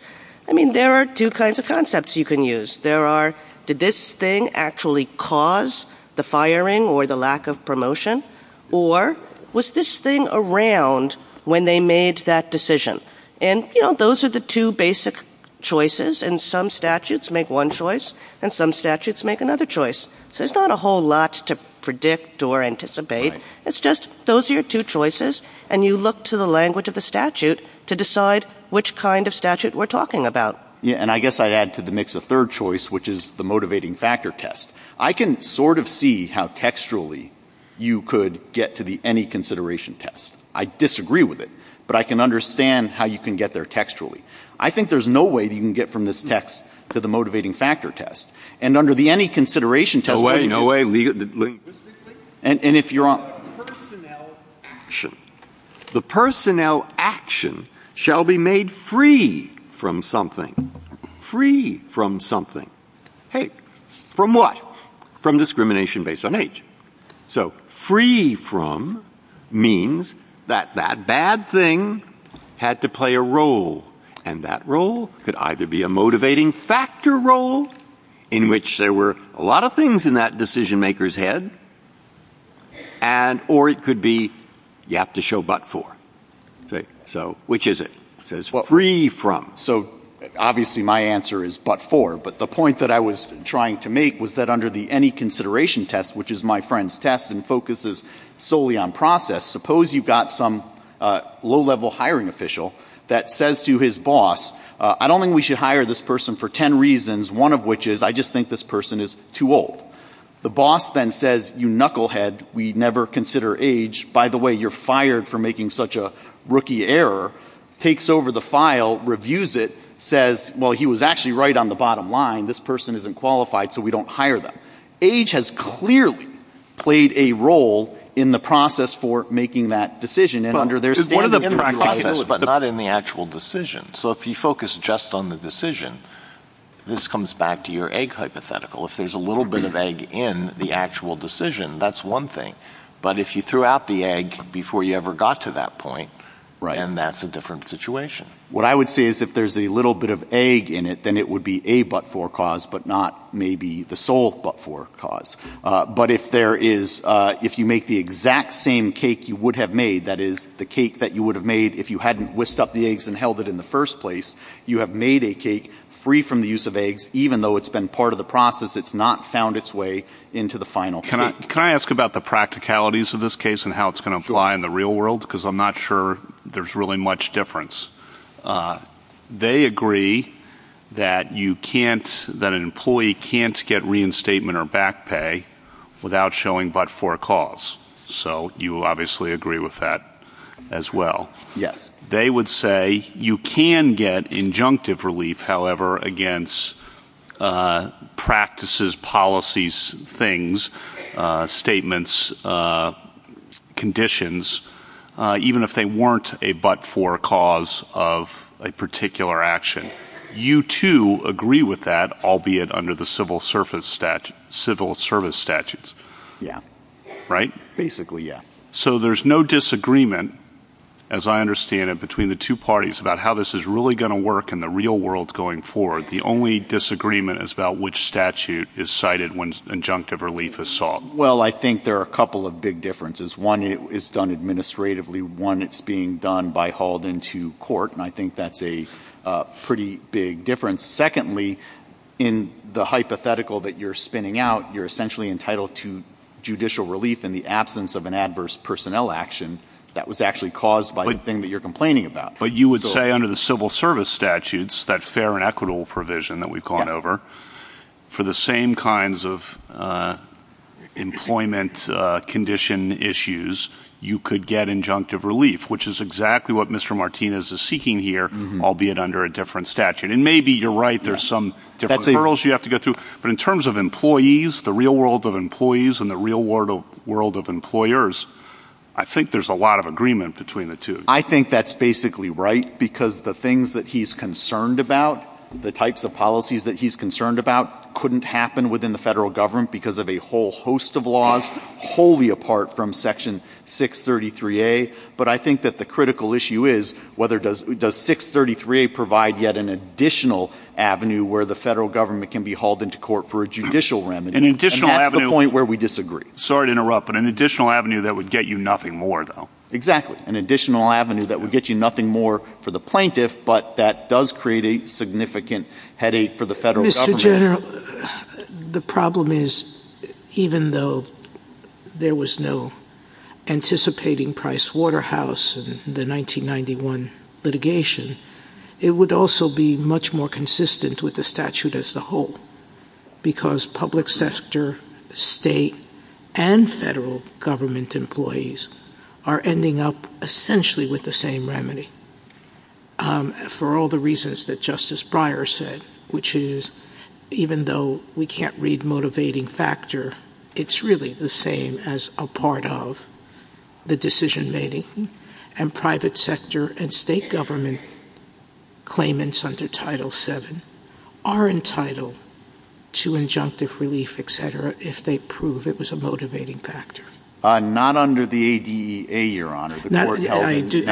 I mean there are two kinds of concepts you can use. There are did this thing actually cause the firing or the lack of promotion or was this thing around when they made that decision. And you know those are the two basic choices and some statutes make one choice and some statutes make another choice. So it's not a whole lot to predict or anticipate. It's just those are your two choices. And you look to the language of the statute to decide which kind of statute we're talking about. Yeah. And I guess I'd add to the mix a third choice which is the motivating factor test. I can sort of see how textually you could get to the any consideration test. I disagree with it but I can understand how you can get there textually. I think there's no way that you can get from this text to the motivating factor test and under the any consideration test. No way no way. And if you're on the personnel action shall be made free from something free from something. Hey from what. From discrimination based on age. So free from means that that bad thing had to play a role and that role could either be in that decision maker's head and or it could be you have to show but for so which is it says what free from. So obviously my answer is but for but the point that I was trying to make was that under the any consideration test which is my friend's test and focuses solely on process. Suppose you've got some low level hiring official that says to his boss I don't think we should hire this person for 10 reasons one of which is I just think this person is too old. The boss then says you knucklehead we never consider age by the way you're fired for making such a rookie error takes over the file reviews it says well he was actually right on the bottom line this person isn't qualified so we don't hire them. Age has clearly played a role in the process for making that decision and under there's one of the practices but not in the actual decision. So if you focus just on the decision this comes back to your egg hypothetical if there's a little bit of egg in the actual decision that's one thing. But if you threw out the egg before you ever got to that point right and that's a different situation. What I would say is if there's a little bit of egg in it then it would be a but for cause but not maybe the sole but for cause. But if there is if you make the exact same cake you would have made that is the cake that you would have made if you hadn't whisked up the eggs and held it in the first place you have made a cake free from the use of eggs even though it's been part of the process it's not found its way into the final. Can I ask about the practicalities of this case and how it's going to apply in the real world because I'm not sure there's really much difference. They agree that you can't that an employee can't get reinstatement or back pay without showing but for cause. So you obviously agree with that as well. Yes they would say you can get injunctive relief however against practices policies things statements conditions even if they weren't a but for cause of a particular action. You too agree with that albeit under the civil service statute civil service statutes. Yeah right. Basically yeah. So there's no disagreement as I understand it between the two parties about how this is really going to work in the real world going forward. The only disagreement is about which statute is cited when injunctive relief is sought. Well I think there are a couple of big differences. One is done administratively one it's being done by hauled into court and I think that's a pretty big difference. Secondly in the hypothetical that you're spinning out you're essentially entitled to an adverse personnel action that was actually caused by the thing that you're complaining about. But you would say under the civil service statutes that fair and equitable provision that we've gone over for the same kinds of employment condition issues you could get injunctive relief which is exactly what Mr. Martinez is seeking here. I'll be it under a different statute and maybe you're right. There's some that's a girls you have to go through. But in terms of employees the real world of employees and the real world of employers I think there's a lot of agreement between the two. I think that's basically right because the things that he's concerned about the types of policies that he's concerned about couldn't happen within the federal government because of a whole host of laws wholly apart from Section 633A. But I think that the critical issue is whether does 633A provide yet an additional avenue where the federal government can be hauled into court for a judicial remedy and an additional point where we disagree. Sorry to interrupt but an additional avenue that would get you nothing more though. Exactly. An additional avenue that would get you nothing more for the plaintiff but that does create a significant headache for the federal. Mr. General the problem is even though there was no anticipating Price Waterhouse in the with the statute as the whole because public sector state and federal government employees are ending up essentially with the same remedy for all the reasons that Justice Breyer said which is even though we can't read motivating factor it's really the same as a part of the decision making and private sector and state government claimants under Title 7 are entitled to injunctive relief et cetera if they prove it was a motivating factor. Not under the ADA your honor. Not under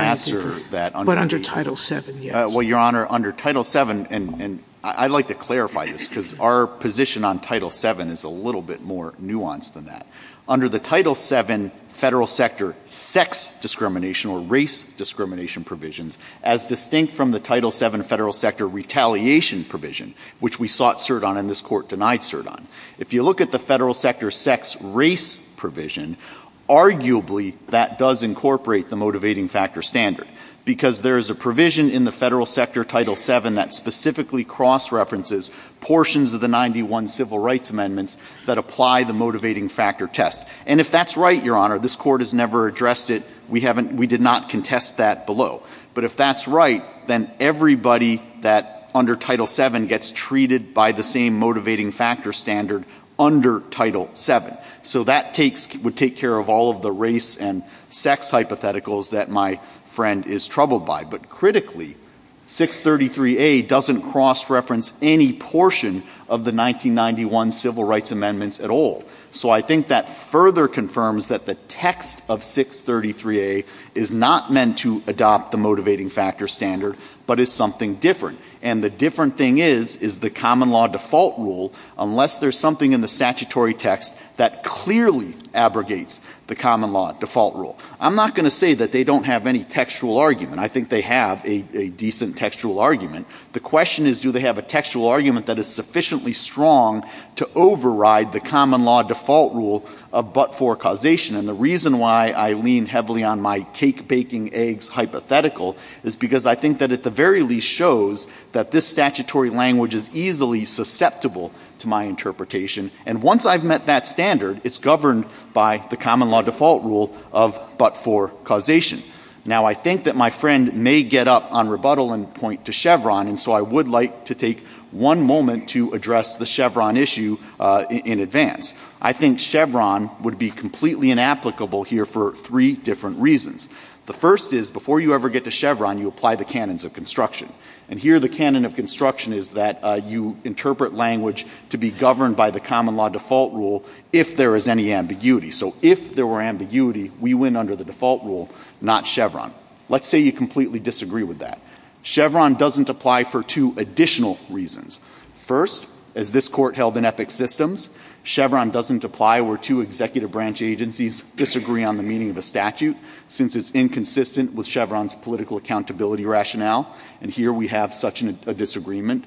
Title 7. Well your honor under Title 7 and I'd like to clarify this because our position on Title 7 is a little bit more nuanced than that. Under the Title 7 federal sector sex discrimination or race discrimination provisions as distinct from the Title 7 federal sector retaliation provision which we sought cert on and this court denied cert on. If you look at the federal sector sex race provision arguably that does incorporate the motivating factor standard because there is a provision in the federal sector Title 7 that specifically cross references portions of the 91 civil rights amendments that apply the motivating factor test. And if that's right your honor this court has never addressed it. We haven't we did not contest that below. But if that's right then everybody that under Title 7 gets treated by the same motivating factor standard under Title 7. So that takes would take care of all of the race and sex hypotheticals that my friend is troubled by. But critically 633A doesn't cross reference any portion of the 1991 civil rights amendments at all. So I think that further confirms that the text of 633A is not meant to adopt the motivating factor standard but is something different. And the different thing is is the common law default rule unless there's something in the statutory text that clearly abrogates the common law default rule. I'm not going to say that they don't have any textual argument. I think they have a decent textual argument. The question is do they have a textual argument that is sufficiently strong to override the common law default rule of but for causation. And the reason why I lean heavily on my cake baking eggs hypothetical is because I think that at the very least shows that this statutory language is easily susceptible to my interpretation. And once I've met that standard it's governed by the common law default rule of but for causation. Now I think that my friend may get up on rebuttal and point to Chevron and so I would like to take one moment to address the Chevron issue in advance. I think Chevron would be completely inapplicable here for three different reasons. The first is before you ever get to Chevron you apply the canons of construction. And here the canon of construction is that you interpret language to be governed by the common law default rule if there is any ambiguity. So if there were ambiguity we win under the default rule not Chevron. Let's say you completely disagree with that. Chevron doesn't apply for two additional reasons. First as this court held in Epic Systems Chevron doesn't apply where two executive branch agencies disagree on the meaning of the statute since it's inconsistent with Chevron's political accountability rationale. And here we have such a disagreement.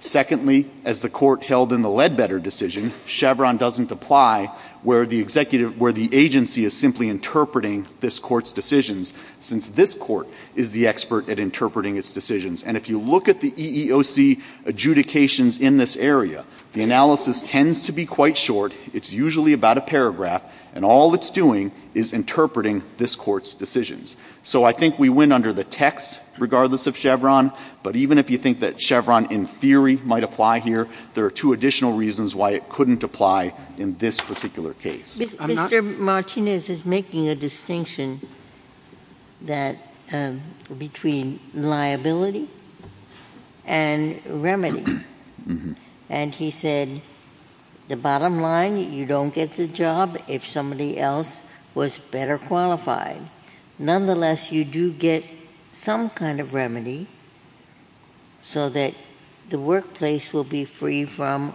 Secondly as the court held in the Ledbetter decision Chevron doesn't apply where the executive where the agency is simply interpreting this court's decisions since this court is the expert at interpreting its decisions. And if you look at the EEOC adjudications in this area the analysis tends to be quite short. It's usually about a paragraph and all it's doing is interpreting this court's decisions. So I think we win under the text regardless of Chevron. But even if you think that Chevron in theory might apply here there are two additional reasons why it couldn't apply in this particular case. Martinez is making a distinction that between liability and remedy and he said the bottom line you don't get the job if somebody else was better qualified. Nonetheless you do get some kind of remedy so that the workplace will be free from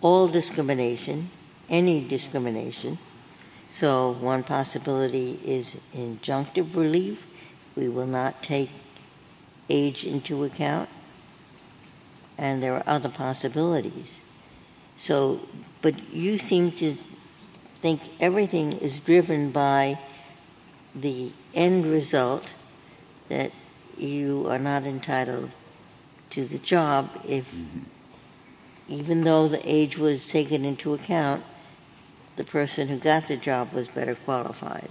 all discrimination any discrimination. So one possibility is injunctive relief. We will not take age into account and there are other possibilities. So but you seem to think everything is driven by the end result that you are not taking into account the person who got the job was better qualified.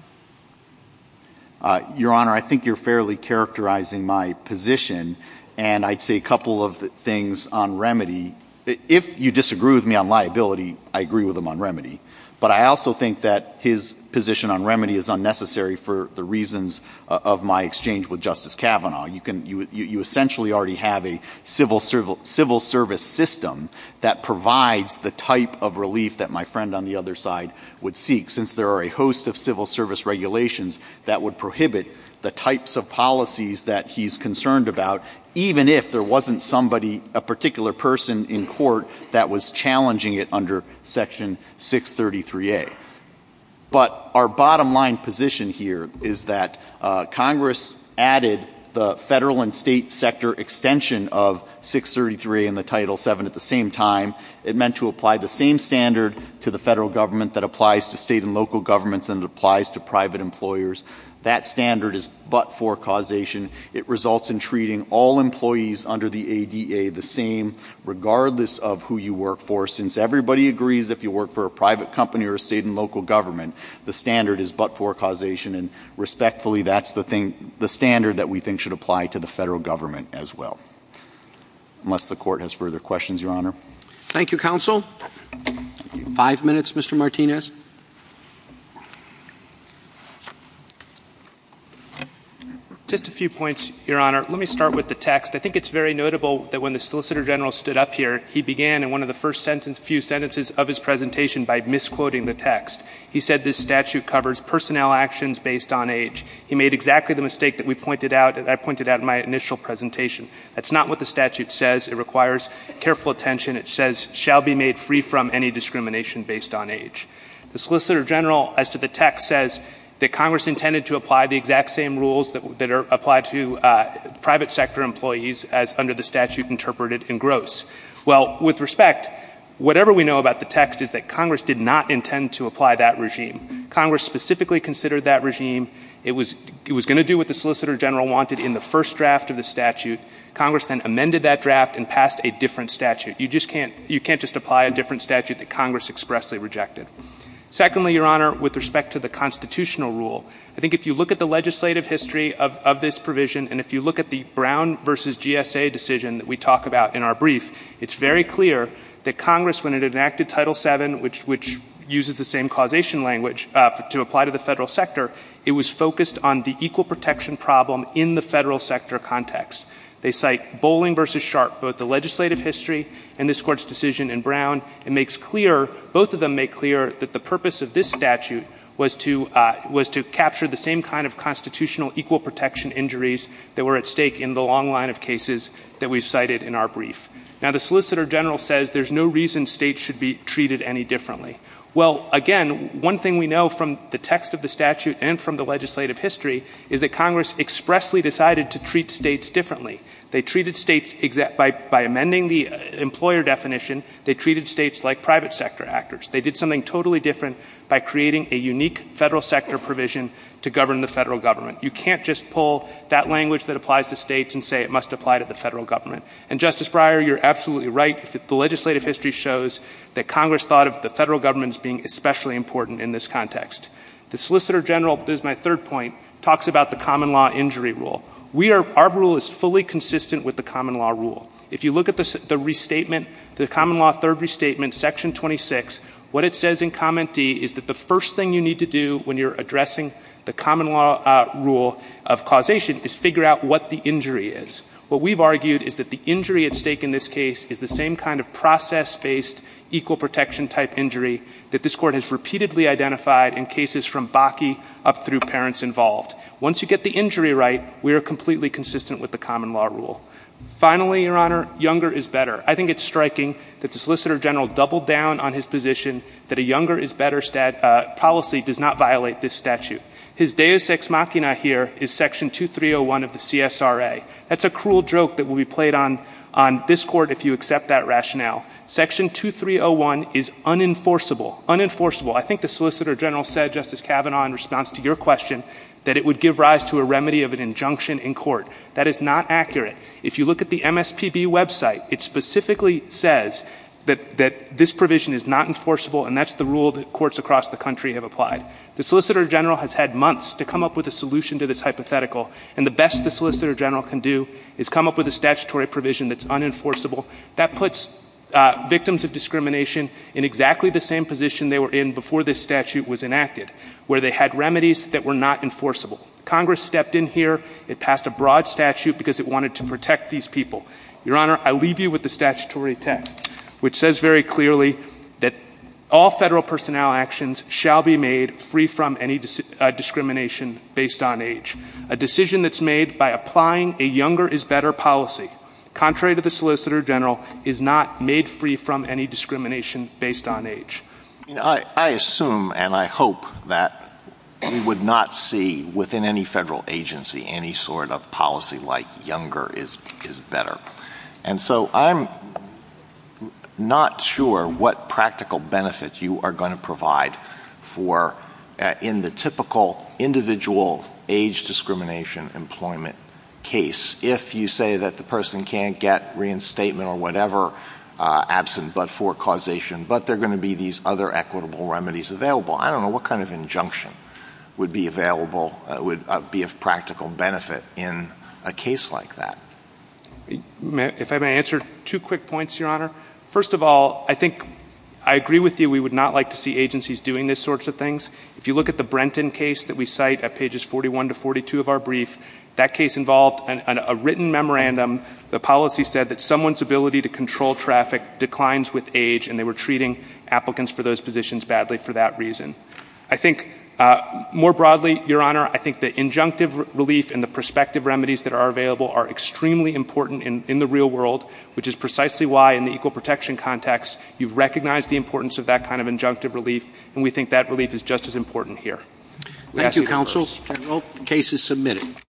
Your Honor I think you're fairly characterizing my position and I'd say a couple of things on remedy. If you disagree with me on liability I agree with him on remedy. But I also think that his position on remedy is unnecessary for the reasons of my exchange with Justice Kavanaugh. You can you essentially already have a civil service system that provides the type of relief that my friend on the other side would seek since there are a host of civil service regulations that would prohibit the types of policies that he's concerned about even if there wasn't somebody a particular person in court that was challenging it under Section 633A. But our bottom line position here is that Congress added the federal and state sector extension of 633 in the Title 7 at the same time. It meant to apply the same standard to the federal government that applies to state and local governments and applies to private employers. That standard is but for causation. It results in treating all employees under the ADA the same regardless of who you work for. Since everybody agrees if you work for a private company or state and local government the standard is but for causation and respectfully that's the thing the standard that we think should apply to the federal government as well. Unless the court has further questions Your Honor. Thank you counsel. Five minutes Mr. Martinez. Just a few points Your Honor. Let me start with the text. I think it's very notable that when the Solicitor General stood up here he began in one of the first sentence few sentences of his presentation by misquoting the text. He said this statute covers personnel actions based on age. He made exactly the mistake that we pointed out that I pointed out in my initial presentation. That's not what the statute says. It requires careful attention. It says shall be made free from any discrimination based on age. The Solicitor General as to the text says that Congress intended to apply the exact same rules that are applied to private sector employees as under the statute interpreted in gross. Well with respect whatever we know about the text is that Congress did not intend to apply that regime. Congress specifically considered that regime. It was it was going to do what the Solicitor General wanted in the first draft of the statute. Congress then amended that draft and passed a different statute. You just can't you can't just apply a different statute that Congress expressly rejected. Secondly Your Honor with respect to the constitutional rule I think if you look at the legislative history of this provision and if you look at the Brown versus GSA decision that we talk about in our brief it's very clear that Congress when it enacted Title 7 which which uses the same causation language to apply to the federal sector it was focused on the equal protection problem in the federal sector context. They cite Bowling versus Sharpe both the legislative history and this court's decision in Brown. It makes clear both of them make clear that the purpose of this statute was to was to capture the same kind of constitutional equal protection injuries that were at stake in the long line of cases that we've cited in our brief. Now the Solicitor General says there's no reason states should be treated any differently. Well again one thing we know from the text of the statute and from the legislative history is that Congress expressly decided to treat states differently. They treated states by by amending the employer definition. They treated states like private sector actors. They did something totally different by creating a unique federal sector provision to govern the federal government. You can't just pull that language that applies to states and say it must apply to the federal government. And Justice Breyer you're absolutely right. The legislative history shows that Congress thought of the federal government's being especially important in this context. The Solicitor General there's my third point talks about the common law injury rule. We are our rule is fully consistent with the common law rule. If you look at the restatement the common law third restatement section 26 what it says in comment D is that the first thing you need to do when you're addressing the common law rule of causation is figure out what the injury is. What we've argued is that the injury at stake in this case is the same kind of process based equal protection type injury that this court has repeatedly identified in cases from Bakke up through parents involved. Once you get the injury right we are completely consistent with the common law rule. Finally Your Honor younger is better. I think it's striking that the Solicitor General doubled down on his position that a younger is better stat policy does not violate this statute. His deus ex machina here is section 2301 of the CSRA. That's a cruel joke that will be played on on this court if you accept that rationale. Section 2301 is unenforceable unenforceable. I think the Solicitor General said Justice Kavanaugh in response to your question that it would give rise to a remedy of an injunction in court. That is not accurate. If you look at the MSPB website it specifically says that that this provision is not enforceable and that's the rule that courts across the country have applied. The Solicitor General has had months to come up with a solution to this hypothetical and the best the Solicitor General can do is come up with a statutory provision that's unenforceable that puts victims of discrimination in exactly the same position they were in before this statute was enacted where they had remedies that were not enforceable. Congress stepped in here. It passed a broad statute because it wanted to protect these people. Your Honor I leave you with the statutory text which says very clearly that all federal personnel actions shall be made free from any discrimination based on age. A decision that's made by applying a younger is better policy contrary to the Solicitor General is not made free from any discrimination based on age. I assume and I hope that we would not see within any federal agency any sort of policy like younger is better. And so I'm not sure what practical benefit you are going to provide for in the typical individual age discrimination employment case. If you say that the person can't get reinstatement or whatever absent but for causation but they're going to be these other equitable remedies available I don't know what kind of injunction would be available would be of practical benefit in a case like that. If I may answer two quick points Your Honor first of all I think I agree with you we would not like to see agencies doing this sorts of things. If you look at the Brenton case that we cite at pages 41 to 42 of our brief that case involved a written memorandum. The policy said that someone's ability to control traffic declines with age and they were treating applicants for those positions badly for that reason. I think more broadly Your Honor I think the injunctive relief and the prospective remedies that are available are extremely important in the real world which is precisely why in the equal protection context you've recognized the importance of that kind of injunctive relief and we think that relief is just as important here. Thank you counsel. Case is submitted.